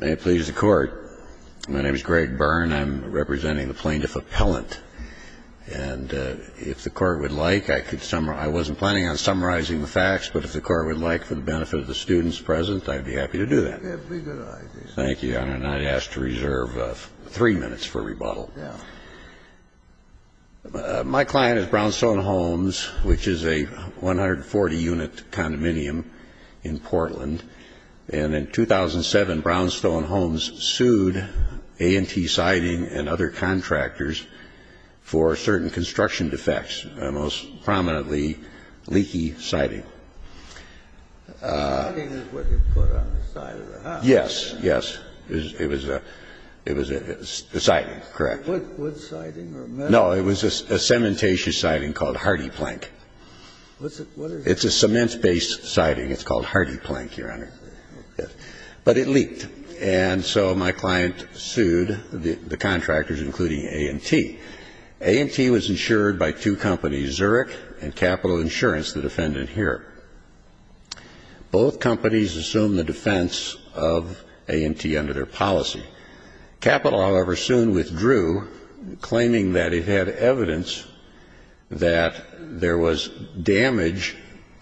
May it please the Court, my name is Greg Byrne, I'm representing the Plaintiff Appellant. And if the Court would like, I wasn't planning on summarizing the facts, but if the Court would like, for the benefit of the students present, I'd be happy to do that. We have bigger items. Thank you, Your Honor, and I'd ask to reserve three minutes for rebuttal. My client is Brownstone Homes, which is a 140-unit condominium in Portland, and in 2007 Brownstone Homes sued A&T Siding and other contractors for certain construction defects, most prominently leaky siding. The siding is what they put on the side of the house. Yes, yes, it was a siding, correct. Wood siding or metal? No, it was a cementaceous siding called Hardy Plank. It's a cement-based siding. It's called Hardy Plank, Your Honor. But it leaked, and so my client sued the contractors, including A&T. A&T was insured by two companies, Zurich and Capital Insurance, the defendant here. Both companies assumed the defense of A&T under their policy. Capital, however, soon withdrew, claiming that it had evidence that there was damage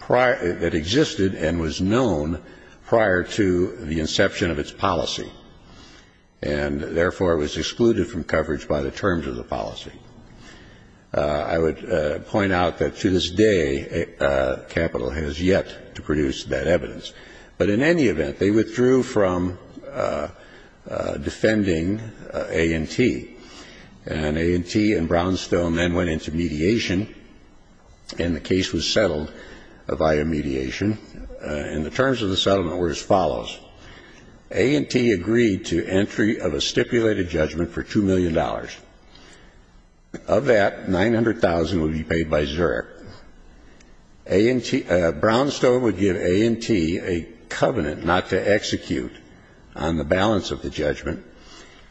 that existed and was known prior to the inception of its policy, and therefore, was excluded from coverage by the terms of the policy. I would point out that to this day, Capital has yet to produce that evidence. But in any event, they withdrew from defending A&T, and A&T and Brownstone then went into mediation, and the case was settled via mediation. And the terms of the settlement were as follows. A&T agreed to entry of a stipulated judgment for $2 million. Of that, $900,000 would be paid by Zurich. Brownstone would give A&T a covenant not to execute on the balance of the judgment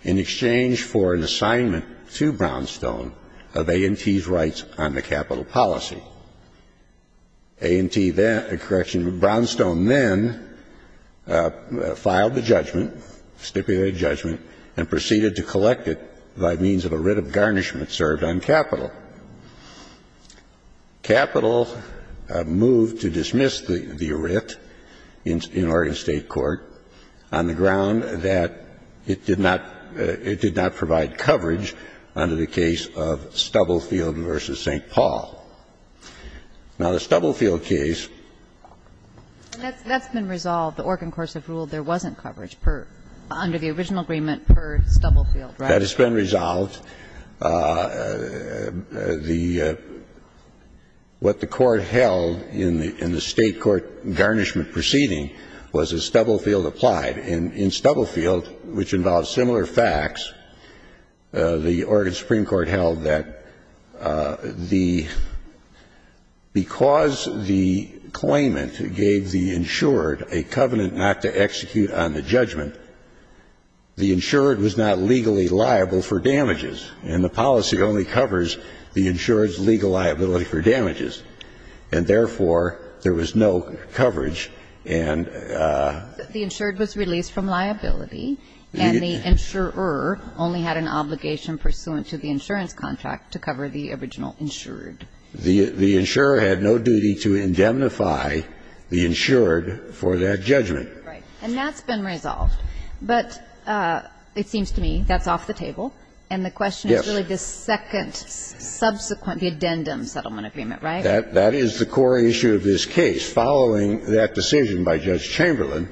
in exchange for an assignment to Brownstone of A&T's rights on the capital policy. A&T then — correction, Brownstone then filed the judgment, stipulated judgment, and proceeded to collect it by means of a writ of garnishment served on capital. Capital moved to dismiss the writ in Oregon State court on the ground that it did not — it did not provide coverage under the case of Stubblefield v. St. Paul. Now, the Stubblefield case — And that's been resolved. The Oregon courts have ruled there wasn't coverage per — under the original agreement per Stubblefield, right? That has been resolved. The — what the Court held in the State court garnishment proceeding was that Stubblefield applied. And in Stubblefield, which involved similar facts, the Oregon Supreme Court held that the — because the claimant gave the insured a covenant not to execute on the judgment, the insured was not legally liable for damages. And the policy only covers the insured's legal liability for damages. And therefore, there was no coverage and — The insured was released from liability, and the insurer only had an obligation pursuant to the insurance contract to cover the original insured. The insurer had no duty to indemnify the insured for that judgment. Right. And that's been resolved. But it seems to me that's off the table. And the question is really the second subsequent — the addendum settlement agreement, right? That is the core issue of this case. Following that decision by Judge Chamberlain,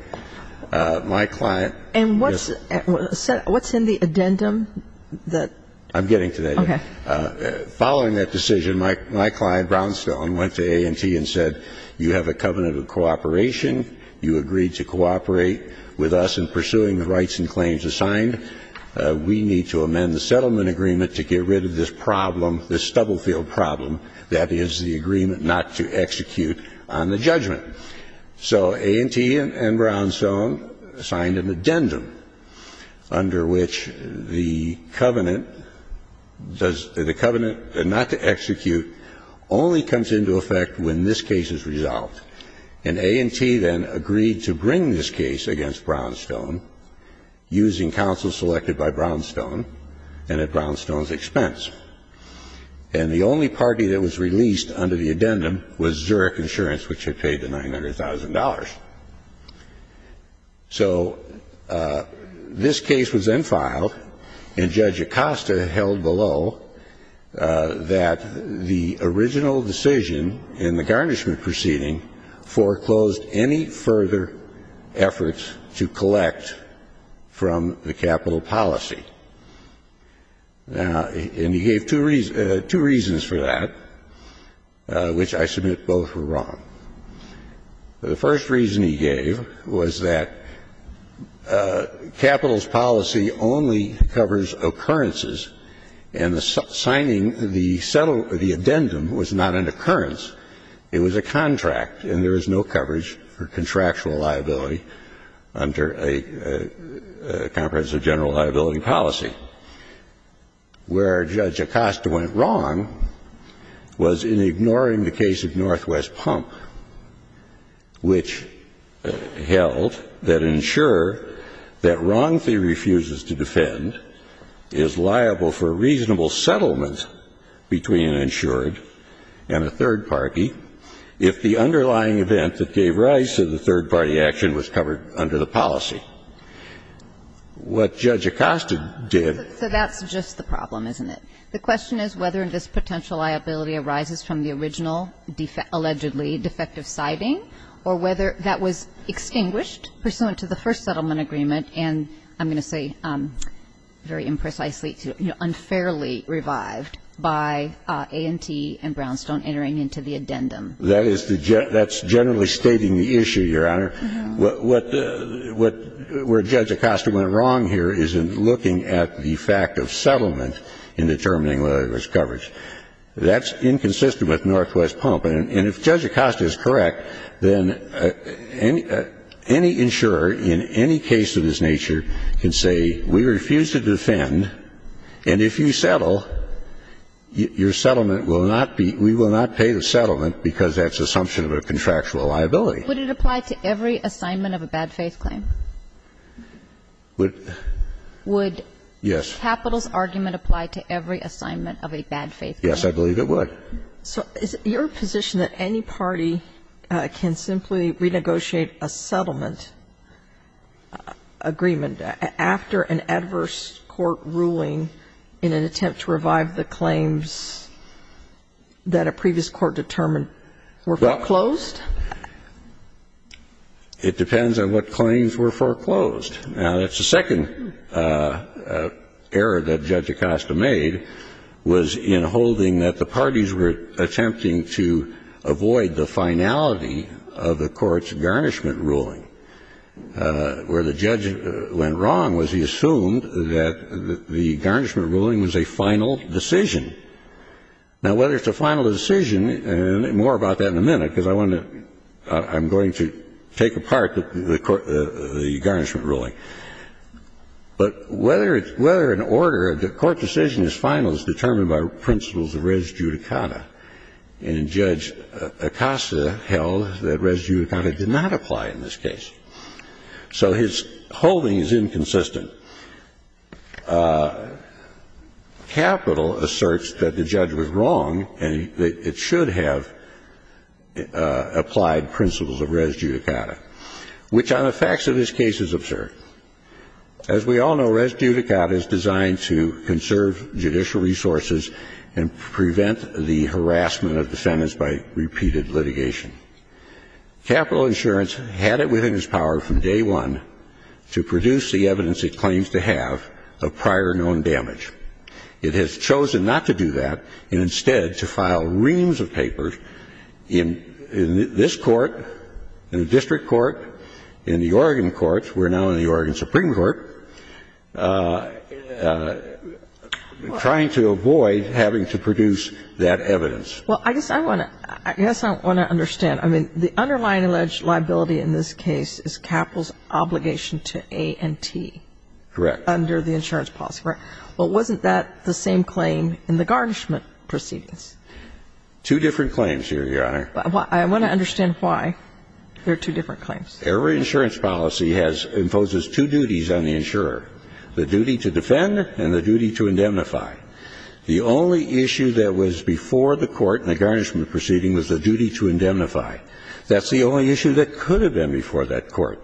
my client — And what's — what's in the addendum that — I'm getting to that. Okay. Following that decision, my client, Brownsville, went to A&T and said, you have a covenant of cooperation. You agreed to cooperate with us in pursuing the rights and claims assigned. We need to amend the settlement agreement to get rid of this problem, this Stubblefield problem, that is, the agreement not to execute on the judgment. So A&T and — and Brownstone signed an addendum under which the covenant does — the covenant not to execute only comes into effect when this case is resolved. And A&T then agreed to bring this case against Brownstone, using counsel selected by Brownstone and at Brownstone's expense. And the only party that was released under the addendum was Zurich Insurance, which had paid the $900,000. So this case was then filed, and Judge Acosta held below that the original decision in the garnishment proceeding foreclosed any further efforts to collect from the capital policy. Now, and he gave two reasons for that, which I submit both were wrong. The first reason he gave was that capital's policy only covers occurrences, and the signing the settle — the addendum was not an occurrence. It was a contract, and there is no coverage for contractual liability under a comprehensive general liability policy. Where Judge Acosta went wrong was in ignoring the case of Northwest Pump, which held that an insurer that wrongfully refuses to defend is liable for a reasonable settlement between an insured and a third party if the underlying event that gave rise to the third party action was covered under the policy. What Judge Acosta did — So that's just the problem, isn't it? The question is whether this potential liability arises from the original allegedly defective siding or whether that was extinguished pursuant to the first settlement agreement and, I'm going to say very imprecisely, unfairly revived by A&T and Brownstone entering into the addendum. That is the — that's generally stating the issue, Your Honor. What — what — where Judge Acosta went wrong here is in looking at the fact of settlement in determining whether there was coverage. That's inconsistent with Northwest Pump. And if Judge Acosta is correct, then any — any insurer in any case of this nature can say, we refuse to defend, and if you settle, your settlement will not be — we will not pay the settlement because that's assumption of a contractual liability. Would it apply to every assignment of a bad faith claim? Would — yes. Would Capital's argument apply to every assignment of a bad faith claim? Yes, I believe it would. So is it your position that any party can simply renegotiate a settlement agreement after an adverse court ruling in an attempt to revive the claims that a previous court determined were foreclosed? Well, it depends on what claims were foreclosed. Now, that's the second error that Judge Acosta made, was in holding that the parties were attempting to avoid the finality of the court's garnishment ruling. Where the judge went wrong was he assumed that the garnishment ruling was a final decision. Now, whether it's a final decision — and more about that in a minute, because I want to — I'm going to take apart the garnishment ruling. But whether an order — a court decision is final is determined by principles of res judicata, and Judge Acosta held that res judicata did not apply in this case. So his holding is inconsistent. Capital asserts that the judge was wrong and that it should have applied principles of res judicata, which on the facts of this case is absurd. As we all know, res judicata is designed to conserve judicial resources and prevent the harassment of defendants by repeated litigation. Capital insurance had it within its power from day one to produce the evidence it claims to have of prior known damage. It has chosen not to do that and instead to file reams of papers in this court, in the district court, in the Oregon courts. We're now in the Oregon Supreme Court, trying to avoid having to produce that evidence. Well, I guess I want to — I guess I want to understand. I mean, the underlying alleged liability in this case is Capital's obligation to A&T. Correct. Under the insurance policy. Correct. Well, wasn't that the same claim in the garnishment proceedings? Two different claims here, Your Honor. I want to understand why there are two different claims. Every insurance policy has — imposes two duties on the insurer, the duty to defend and the duty to indemnify. The only issue that was before the court in the garnishment proceeding was the duty to indemnify. That's the only issue that could have been before that court.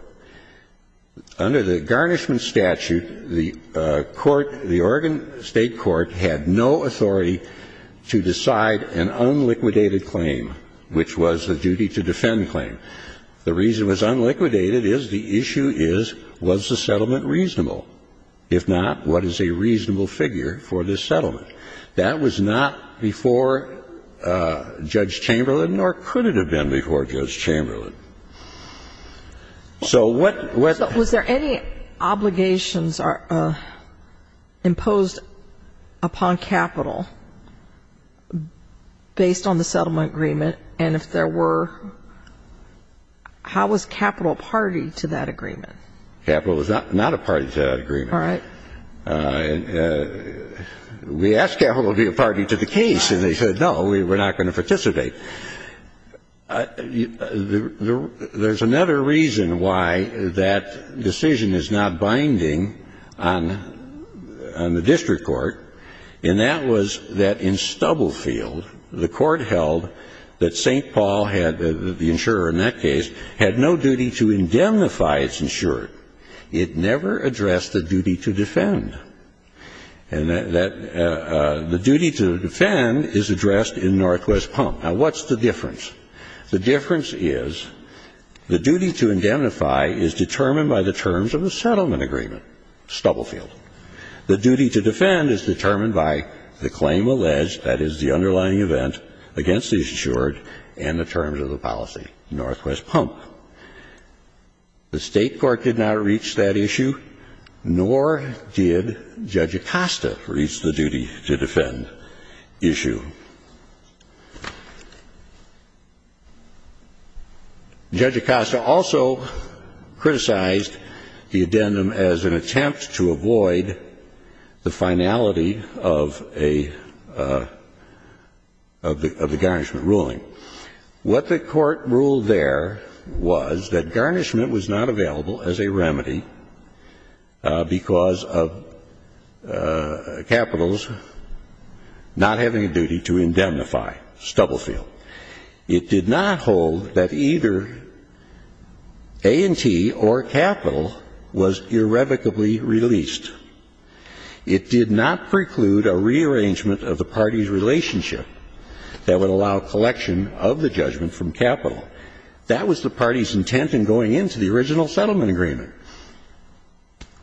Under the garnishment statute, the court — the Oregon State Court had no authority to decide an unliquidated claim, which was the duty to defend claim. The reason it was unliquidated is the issue is, was the settlement reasonable? If not, what is a reasonable figure for this settlement? That was not before Judge Chamberlain, nor could it have been before Judge Chamberlain. So what — So was there any obligations imposed upon capital based on the settlement agreement? And if there were, how was capital a party to that agreement? Capital was not a party to that agreement. All right. We asked capital to be a party to the case, and they said, no, we're not going to participate. There's another reason why that decision is not binding on the district court, and that was that in Stubblefield, the court held that St. Paul had — the insurer in that case had no duty to indemnify its insurer. It never addressed the duty to defend. And that — the duty to defend is addressed in Northwest Palm. Now, what's the difference? The difference is the duty to indemnify is determined by the terms of the settlement agreement, Stubblefield. The duty to defend is determined by the claim alleged, that is, the underlying event against the insurer and the terms of the policy, Northwest Palm. The State court did not reach that issue, nor did Judge Acosta reach the duty to defend issue. Judge Acosta also criticized the addendum as an attempt to avoid the finality of a — of the — of the garnishment ruling. What the court ruled there was that garnishment was not available as a remedy because of not having a duty to indemnify Stubblefield. It did not hold that either A&T or Capital was irrevocably released. It did not preclude a rearrangement of the parties' relationship that would allow collection of the judgment from Capital. That was the parties' intent in going into the original settlement agreement.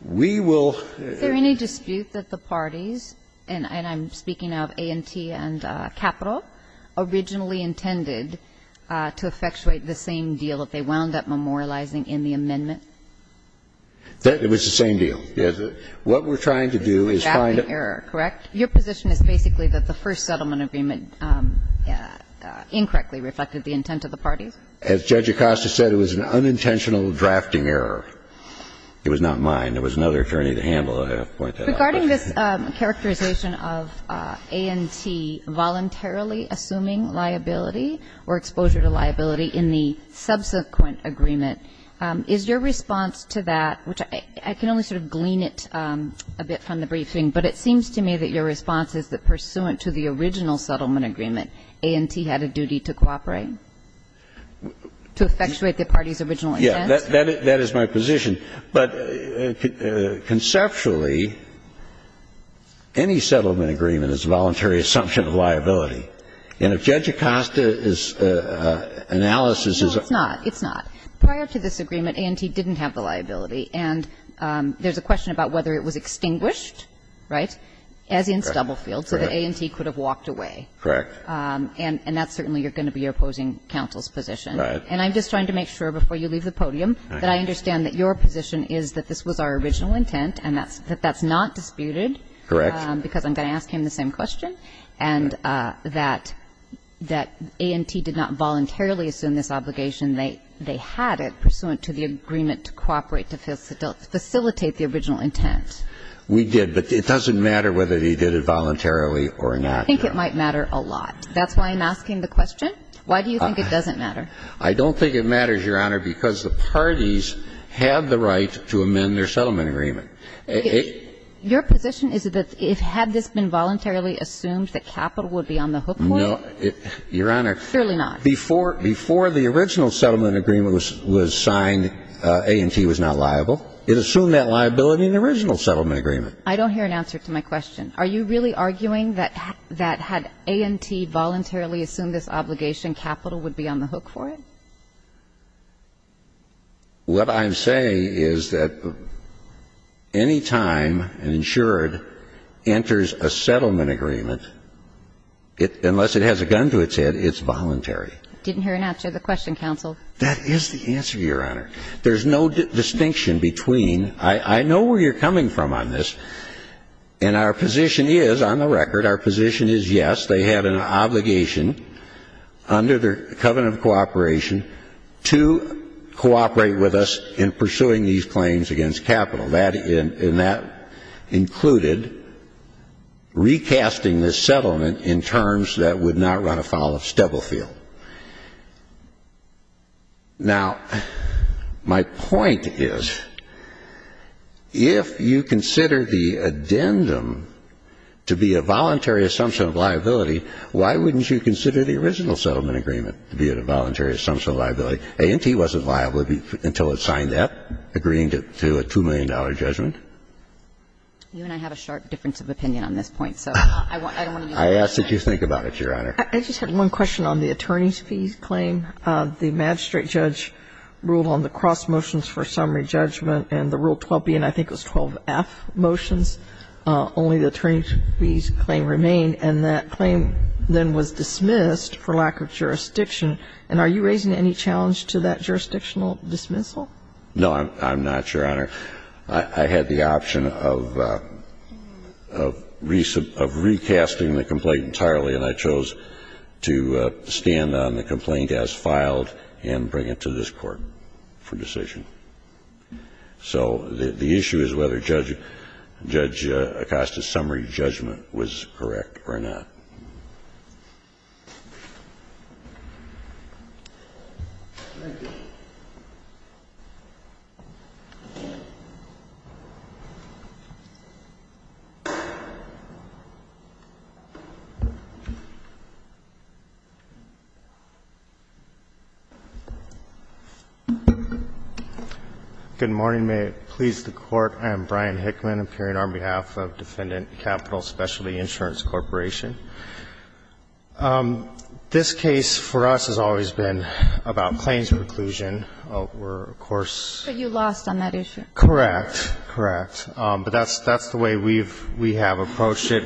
We will — The court ruled that the parties, and I'm speaking of A&T and Capital, originally intended to effectuate the same deal that they wound up memorializing in the amendment. It was the same deal, yes. What we're trying to do is find a — Drafting error, correct? Your position is basically that the first settlement agreement incorrectly reflected the intent of the parties? As Judge Acosta said, it was an unintentional drafting error. It was not mine. It was another attorney to handle. I have to point that out. Regarding this characterization of A&T voluntarily assuming liability or exposure to liability in the subsequent agreement, is your response to that, which I can only sort of glean it a bit from the briefing, but it seems to me that your response is that pursuant to the original settlement agreement, A&T had a duty to cooperate? To effectuate the parties' original intent? That is my position. But conceptually, any settlement agreement is a voluntary assumption of liability. And if Judge Acosta's analysis is a — No, it's not. It's not. Prior to this agreement, A&T didn't have the liability. And there's a question about whether it was extinguished, right, as in Stubblefield, so that A&T could have walked away. Correct. And that's certainly going to be your opposing counsel's position. Right. And I'm just trying to make sure before you leave the podium that I understand that your position is that this was our original intent and that that's not disputed. Correct. Because I'm going to ask him the same question, and that A&T did not voluntarily assume this obligation. They had it pursuant to the agreement to cooperate to facilitate the original intent. We did, but it doesn't matter whether he did it voluntarily or not. I think it might matter a lot. That's why I'm asking the question. Why do you think it doesn't matter? I don't think it matters, Your Honor, because the parties had the right to amend their settlement agreement. Your position is that had this been voluntarily assumed that capital would be on the hook for it? No, Your Honor. Surely not. Before the original settlement agreement was signed, A&T was not liable. It assumed that liability in the original settlement agreement. I don't hear an answer to my question. Are you really arguing that had A&T voluntarily assumed this obligation, capital would be on the hook for it? What I'm saying is that any time an insured enters a settlement agreement, unless it has a gun to its head, it's voluntary. I didn't hear an answer to the question, counsel. That is the answer, Your Honor. There's no distinction between. I know where you're coming from on this, and our position is, on the record, our position is yes. They had an obligation under their covenant of cooperation to cooperate with us in pursuing these claims against capital. And that included recasting this settlement in terms that would not run afoul of Stebblefield. Now, my point is, if you consider the addendum to be a voluntary assumption of liability, why wouldn't you consider the original settlement agreement to be a voluntary assumption of liability? A&T wasn't liable until it signed that, agreeing to a $2 million judgment. You and I have a sharp difference of opinion on this point, so I don't want to use that as an excuse. I ask that you think about it, Your Honor. I just have one question on the attorney's fees claim. The magistrate judge ruled on the cross motions for summary judgment, and the Rule of Law, and the judge's claim then was dismissed for lack of jurisdiction. And are you raising any challenge to that jurisdictional dismissal? No, I'm not, Your Honor. I had the option of recasting the complaint entirely, and I chose to stand on the complaint as filed and bring it to this Court for decision. So the issue is whether Judge Acosta's summary judgment was correct or not. Thank you. Good morning. I'm Brian Hickman, appearing on behalf of Defendant Capital Specialty Insurance Corporation. This case for us has always been about claims of inclusion. We're, of course ---- But you lost on that issue. Correct. Correct. But that's the way we have approached it.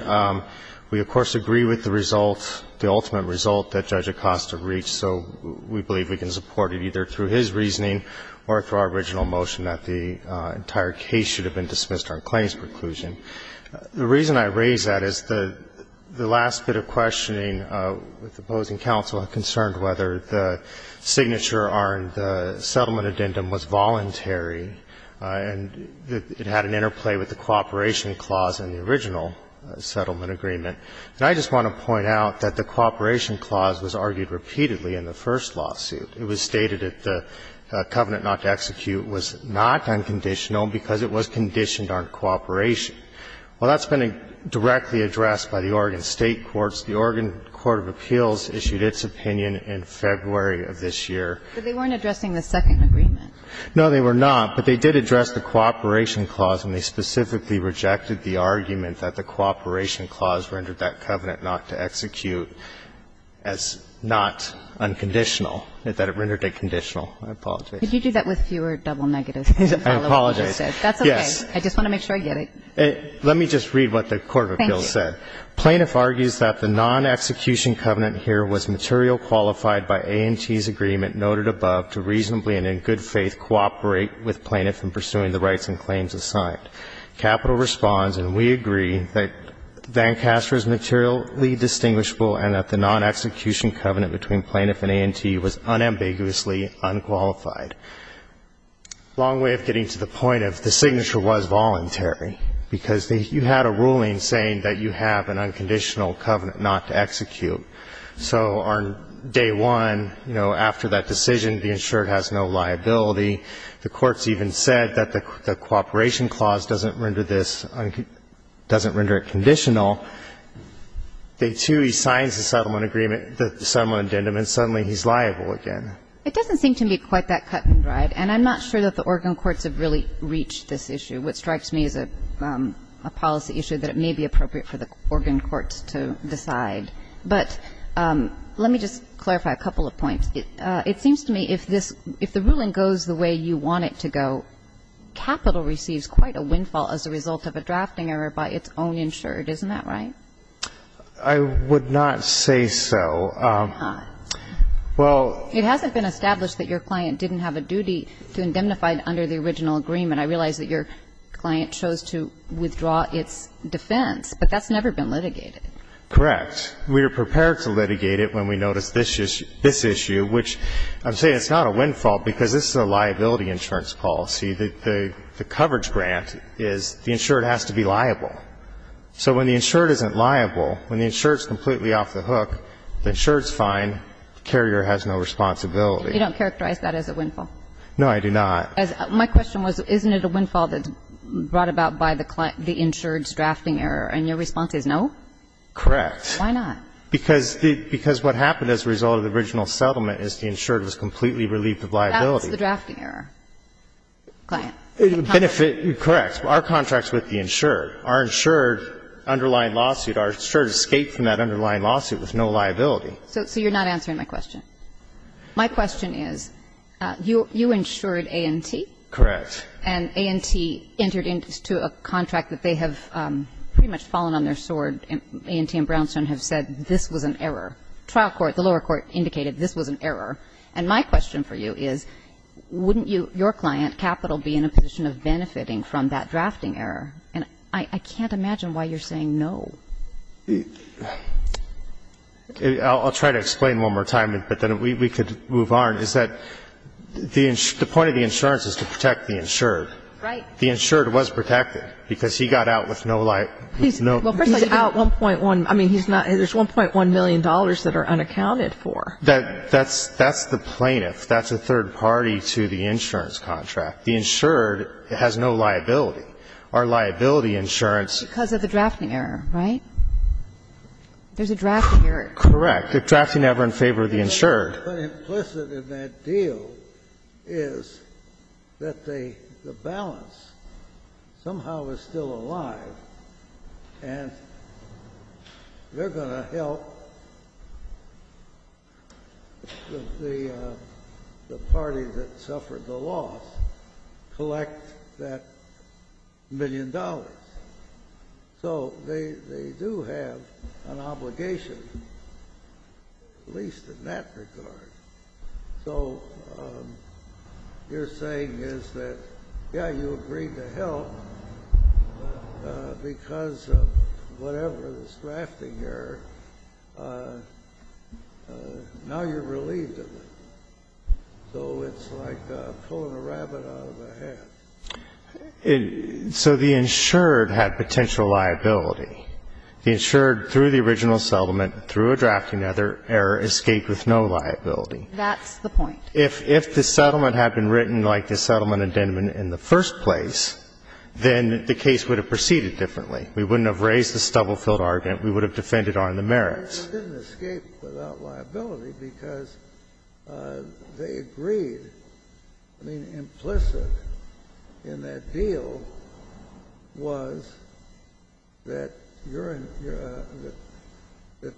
We, of course, agree with the result, the ultimate result that Judge Acosta reached, so we believe we can support it either through his reasoning or through our original motion that the entire case should have been dismissed on claims of inclusion. The reason I raise that is the last bit of questioning with opposing counsel concerned whether the signature on the settlement addendum was voluntary and it had an interplay with the cooperation clause in the original settlement agreement. And I just want to point out that the cooperation clause was argued repeatedly in the first lawsuit. It was stated that the covenant not to execute was not unconditional because it was conditioned on cooperation. Well, that's been directly addressed by the Oregon State courts. The Oregon Court of Appeals issued its opinion in February of this year. But they weren't addressing the second agreement. No, they were not. But they did address the cooperation clause, and they specifically rejected the argument that the cooperation clause rendered that covenant not to execute as not unconditional, that it rendered it conditional. I apologize. Could you do that with fewer double negatives? I apologize. That's okay. I just want to make sure I get it. Let me just read what the court of appeals said. Thank you. Plaintiff argues that the non-execution covenant here was material qualified by AMT's agreement noted above to reasonably and in good faith cooperate with plaintiff in pursuing the rights and claims assigned. Capital responds, and we agree, that VanCaster is materially distinguishable and that the non-execution covenant between plaintiff and AMT was unambiguously unqualified. Long way of getting to the point of the signature was voluntary because you had a ruling saying that you have an unconditional covenant not to execute. So on day one, you know, after that decision, the insured has no liability. The court's even said that the cooperation clause doesn't render this unconditional. Day two, he signs the settlement agreement, the settlement addendum, and suddenly he's liable again. It doesn't seem to me quite that cut and dried, and I'm not sure that the Oregon courts have really reached this issue. What strikes me is a policy issue that it may be appropriate for the Oregon courts to decide. But let me just clarify a couple of points. It seems to me if the ruling goes the way you want it to go, Capital receives quite a windfall as a result of a drafting error by its own insured. Isn't that right? I would not say so. Well, it hasn't been established that your client didn't have a duty to indemnify under the original agreement. I realize that your client chose to withdraw its defense, but that's never been litigated. Correct. We are prepared to litigate it when we notice this issue, which I'm saying it's not a windfall because this is a liability insurance policy. The coverage grant is the insured has to be liable. So when the insured isn't liable, when the insured's completely off the hook, the insured's fine, the carrier has no responsibility. You don't characterize that as a windfall? No, I do not. My question was isn't it a windfall that's brought about by the insured's drafting error, and your response is no? Why not? Because what happened as a result of the original settlement is the insured was completely relieved of liability. That was the drafting error. Benefit. Correct. Our contract's with the insured. Our insured underlying lawsuit, our insured escaped from that underlying lawsuit with no liability. So you're not answering my question. My question is, you insured A&T. Correct. And A&T entered into a contract that they have pretty much fallen on their sword, and A&T and Brownstone have said this was an error. Trial court, the lower court, indicated this was an error. And my question for you is wouldn't your client, Capital, be in a position of benefiting from that drafting error? And I can't imagine why you're saying no. I'll try to explain one more time, but then we could move on, is that the point of the insurance is to protect the insured. Right. The insured was protected because he got out with no liability. He's out 1.1. I mean, there's $1.1 million that are unaccounted for. That's the plaintiff. That's a third party to the insurance contract. The insured has no liability. Our liability insurance. Because of the drafting error, right? There's a drafting error. Correct. The drafting error in favor of the insured. What's implicit in that deal is that the balance somehow is still alive, and they're going to help the party that suffered the loss collect that million dollars. So they do have an obligation, at least in that regard. So you're saying is that, yeah, you agreed to help because of whatever this drafting error. Now you're relieved of it. So it's like pulling a rabbit out of a hat. So the insured had potential liability. The insured, through the original settlement, through a drafting error, escaped with no liability. That's the point. If the settlement had been written like the settlement in the first place, then the case would have proceeded differently. We wouldn't have raised the stubble-filled argument. We would have defended on the merits. The insured didn't escape without liability because they agreed. I mean, implicit in that deal was that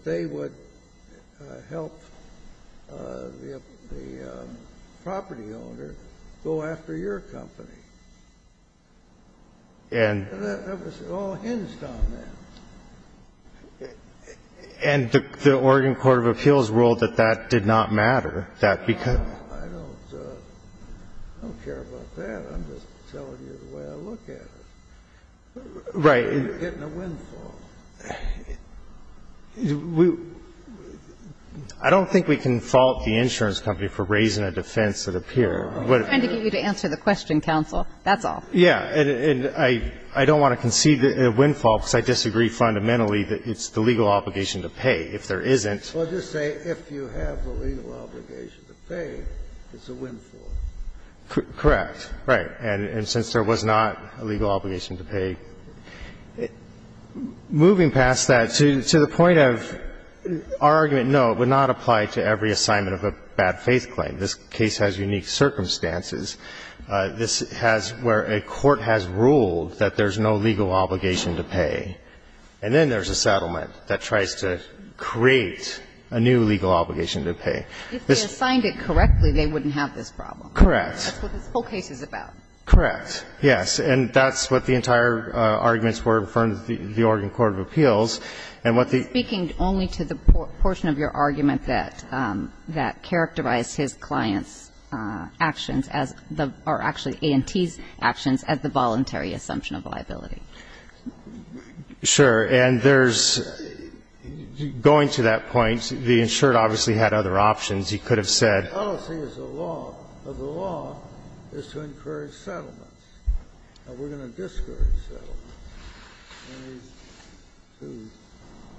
they would help the property owner go after your company. And that was all hinged on that. And the Oregon Court of Appeals ruled that that did not matter, that because of the law. I don't care about that. I'm just telling you the way I look at it. Right. You're getting a windfall. I don't think we can fault the insurance company for raising a defense that appeared. We're trying to get you to answer the question, counsel. That's all. Yeah. And I don't want to concede a windfall because I disagree fundamentally that it's the legal obligation to pay if there isn't. Well, just say if you have the legal obligation to pay, it's a windfall. Correct. Right. And since there was not a legal obligation to pay. Moving past that, to the point of our argument, no, it would not apply to every assignment of a bad faith claim. This case has unique circumstances. This has where a court has ruled that there's no legal obligation to pay. And then there's a settlement that tries to create a new legal obligation to pay. If they assigned it correctly, they wouldn't have this problem. Correct. That's what this whole case is about. Correct. Yes. And that's what the entire arguments were from the Oregon Court of Appeals. And what the. I'm speaking only to the portion of your argument that characterized his client's actions as the, or actually A&T's actions, as the voluntary assumption of liability. Sure. And there's, going to that point, the insured obviously had other options. He could have said. The policy is the law. But the law is to encourage settlements. And we're going to discourage settlements when these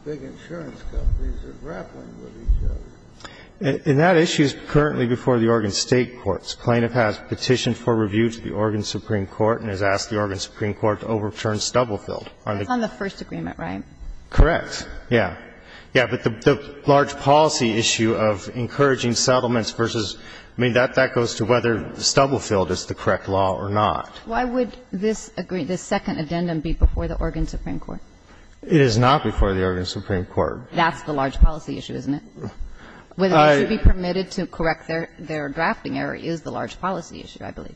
two big insurance companies are grappling with each other. And that issue is currently before the Oregon State courts. The plaintiff has petitioned for review to the Oregon Supreme Court and has asked the Oregon Supreme Court to overturn Stubblefield. That's on the first agreement, right? Correct. Yes. Yes. But the large policy issue of encouraging settlements versus. I mean, that goes to whether Stubblefield is the correct law or not. Why would this second addendum be before the Oregon Supreme Court? It is not before the Oregon Supreme Court. That's the large policy issue, isn't it? Whether they should be permitted to correct their drafting error is the large policy issue, I believe.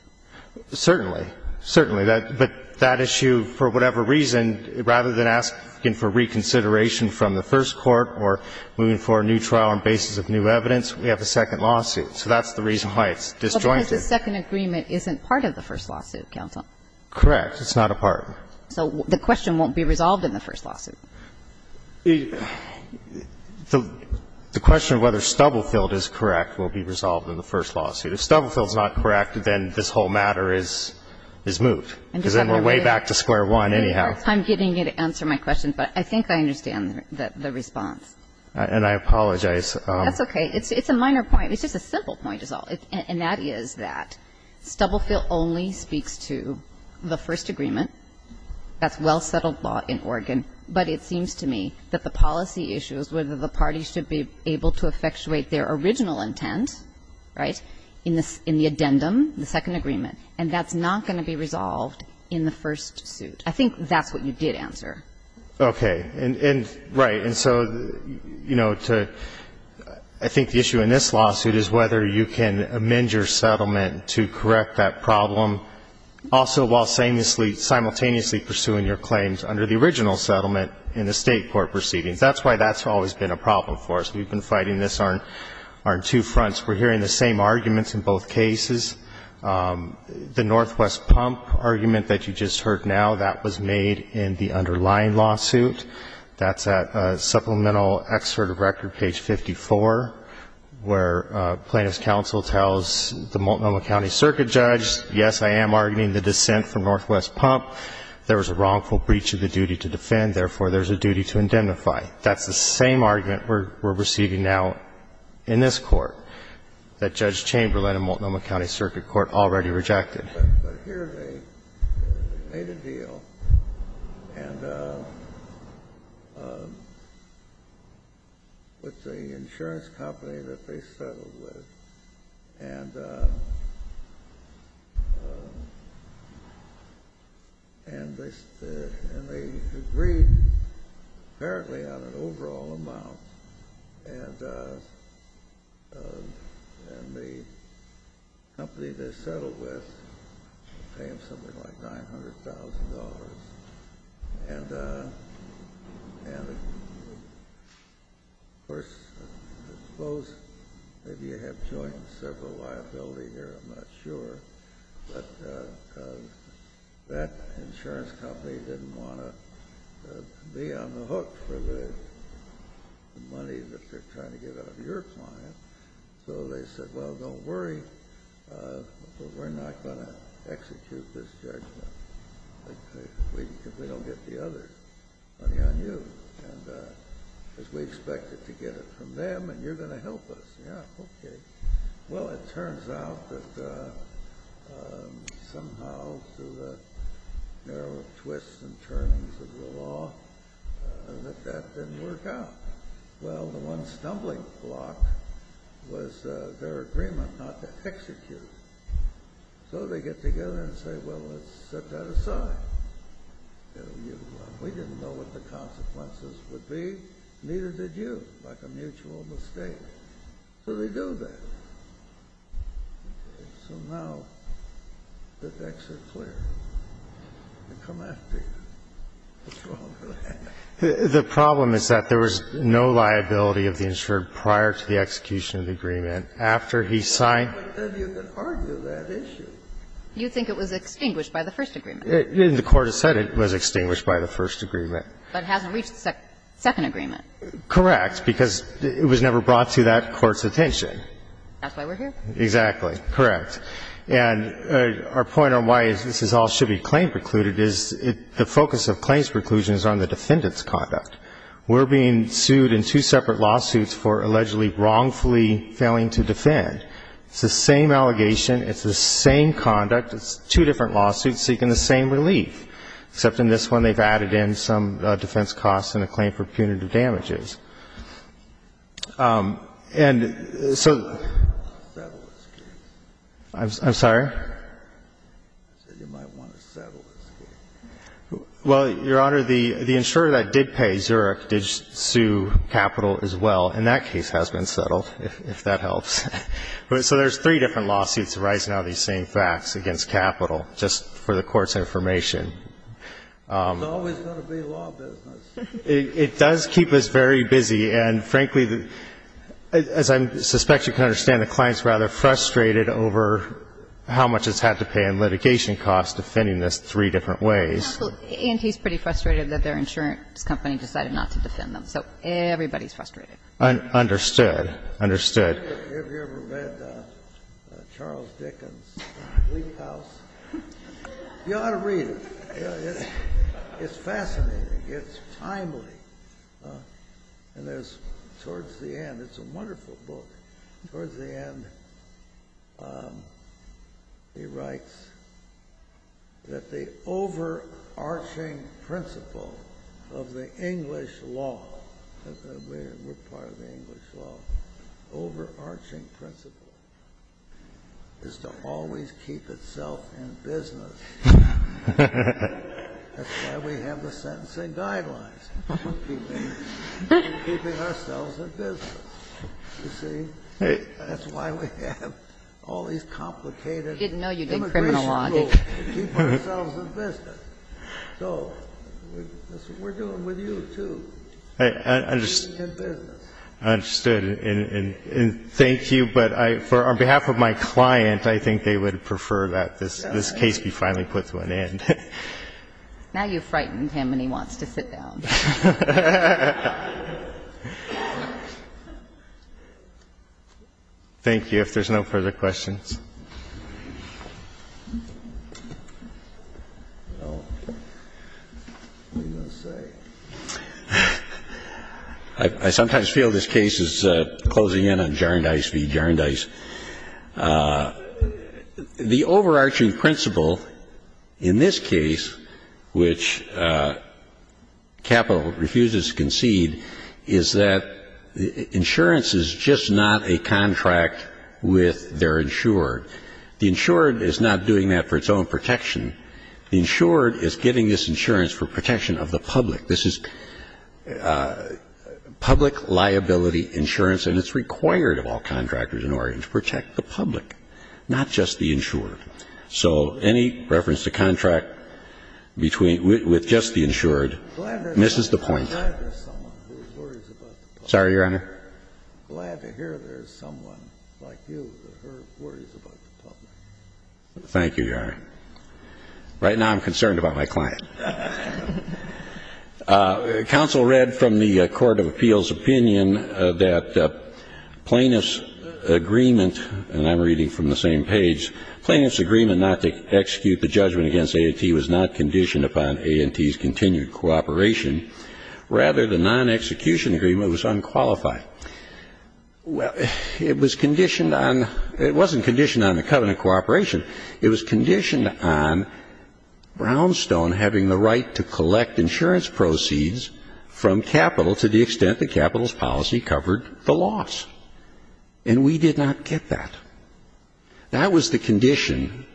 Certainly. Certainly. But that issue, for whatever reason, rather than asking for reconsideration from the first court or moving for a new trial on the basis of new evidence, we have a second lawsuit. So that's the reason why it's disjointed. Because the second agreement isn't part of the first lawsuit, counsel. Correct. It's not a part. So the question won't be resolved in the first lawsuit. The question of whether Stubblefield is correct will be resolved in the first lawsuit. If Stubblefield is not correct, then this whole matter is moved. Because then we're way back to square one anyhow. I'm getting you to answer my question, but I think I understand the response. And I apologize. That's okay. It's a minor point. It's just a simple point is all. And that is that Stubblefield only speaks to the first agreement. That's well-settled law in Oregon. But it seems to me that the policy issue is whether the party should be able to effectuate their original intent, right, in the addendum, the second agreement. And that's not going to be resolved in the first suit. I think that's what you did answer. Okay. Right. And so, you know, I think the issue in this lawsuit is whether you can amend your settlement to correct that problem, also while simultaneously pursuing your claims under the original settlement in the State court proceedings. That's why that's always been a problem for us. We've been fighting this on two fronts. We're hearing the same arguments in both cases. The Northwest pump argument that you just heard now, that was made in the underlying lawsuit. That's at supplemental excerpt of record, page 54, where plaintiff's counsel tells the Multnomah County circuit judge, yes, I am arguing the dissent from Northwest pump. There was a wrongful breach of the duty to defend. Therefore, there's a duty to indemnify. That's the same argument we're receiving now in this Court, that Judge Chamberlain in Multnomah County Circuit Court already rejected. But here they made a deal with the insurance company that they settled with, and they agreed, apparently, on an overall amount. And the company they settled with paid them something like $900,000. And of course, I suppose maybe you have joint and several liability here. I'm not sure. But that insurance company didn't want to be on the hook for the money that they're trying to get out of your client. So they said, well, don't worry, but we're not going to execute this judgment. We don't get the other money on you, as we expected to get it from them, and you're going to help us. Yeah, okay. Well, it turns out that somehow through the narrow twists and turnings of the law that that didn't work out. Well, the one stumbling block was their agreement not to execute. So they get together and say, well, let's set that aside. We didn't know what the consequences would be. Neither did you, like a mutual mistake. So they do that. So now the decks are clear. They come after you. The problem is that there was no liability of the insured prior to the execution of the agreement. And the court has said it was extinguished by the first agreement. But it hasn't reached the second agreement. Correct. Because it was never brought to that court's attention. That's why we're here. Exactly. Correct. And our point on why this is all should be claim precluded is the focus of claims preclusion is on the defendant's conduct. We're being sued in two separate lawsuits for allegedly wrongfully failing to execute and failing to defend. It's the same allegation. It's the same conduct. It's two different lawsuits seeking the same relief, except in this one they've added in some defense costs and a claim for punitive damages. And so I'm sorry. I said you might want to settle this case. Well, Your Honor, the insurer that did pay, Zurich, did sue Capital as well. And that case has been settled, if that helps. So there's three different lawsuits arising out of these same facts against Capital, just for the Court's information. It's always going to be law business. It does keep us very busy. And frankly, as I suspect you can understand, the client's rather frustrated over how much it's had to pay in litigation costs defending this three different ways. And he's pretty frustrated that their insurance company decided not to defend So everybody's frustrated. Understood. Understood. Have you ever read Charles Dickens' Leap House? You ought to read it. It's fascinating. It's timely. And towards the end, it's a wonderful book, towards the end he writes that the overarching principle is to always keep itself in business. That's why we have the sentencing guidelines, keeping ourselves in business. You see? That's why we have all these complicated immigration rules to keep ourselves in business. So that's what we're doing with you, too. I understand. I understood. And thank you, but on behalf of my client, I think they would prefer that this case be finally put to an end. Now you've frightened him and he wants to sit down. Thank you. If there's no further questions. Well, what are you going to say? I sometimes feel this case is closing in on Jarndyce v. Jarndyce. The overarching principle in this case, which capital refuses to concede, is that insurance is just not a contract with their insured. The insured is not doing that for its own protection. The insured is getting this insurance for protection of the public. This is public liability insurance, and it's required of all contractors in Oregon to protect the public, not just the insured. So any reference to contract between, with just the insured, misses the point. I'm glad there's someone who worries about the public. Sorry, Your Honor. I'm glad to hear there's someone like you who worries about the public. Thank you, Your Honor. Right now I'm concerned about my client. Counsel read from the court of appeals opinion that plaintiff's agreement, and I'm reading from the same page, plaintiff's agreement not to execute the judgment against A&T was not conditioned upon A&T's continued cooperation. Rather, the non-execution agreement was unqualified. Well, it was conditioned on, it wasn't conditioned on the covenant cooperation. It was conditioned on Brownstone having the right to collect insurance proceeds from capital to the extent that capital's policy covered the loss. And we did not get that. That was the condition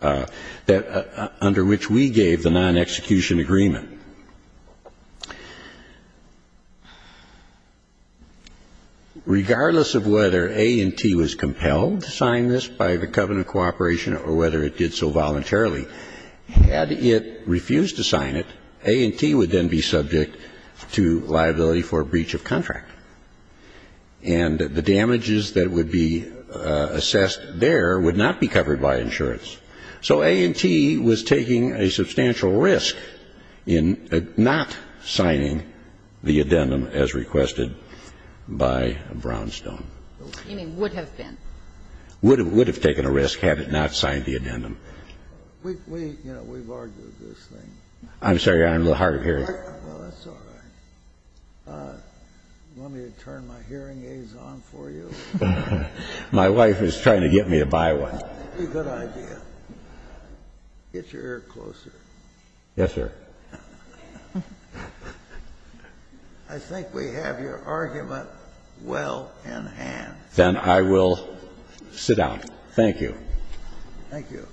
that, under which we gave the non-execution agreement. Regardless of whether A&T was compelled to sign this by the covenant cooperation or whether it did so voluntarily, had it refused to sign it, A&T would then be subject to liability for breach of contract. And the damages that would be assessed there would not be covered by insurance. So A&T was taking a substantial risk in not signing the addendum as requested by Brownstone. You mean would have been? Would have taken a risk had it not signed the addendum. We've argued this thing. I'm sorry, Your Honor. I'm a little hard of hearing. Well, that's all right. Want me to turn my hearing aids on for you? My wife is trying to get me to buy one. That would be a good idea. Get your ear closer. Yes, sir. I think we have your argument well in hand. Then I will sit down. Thank you. Thank you.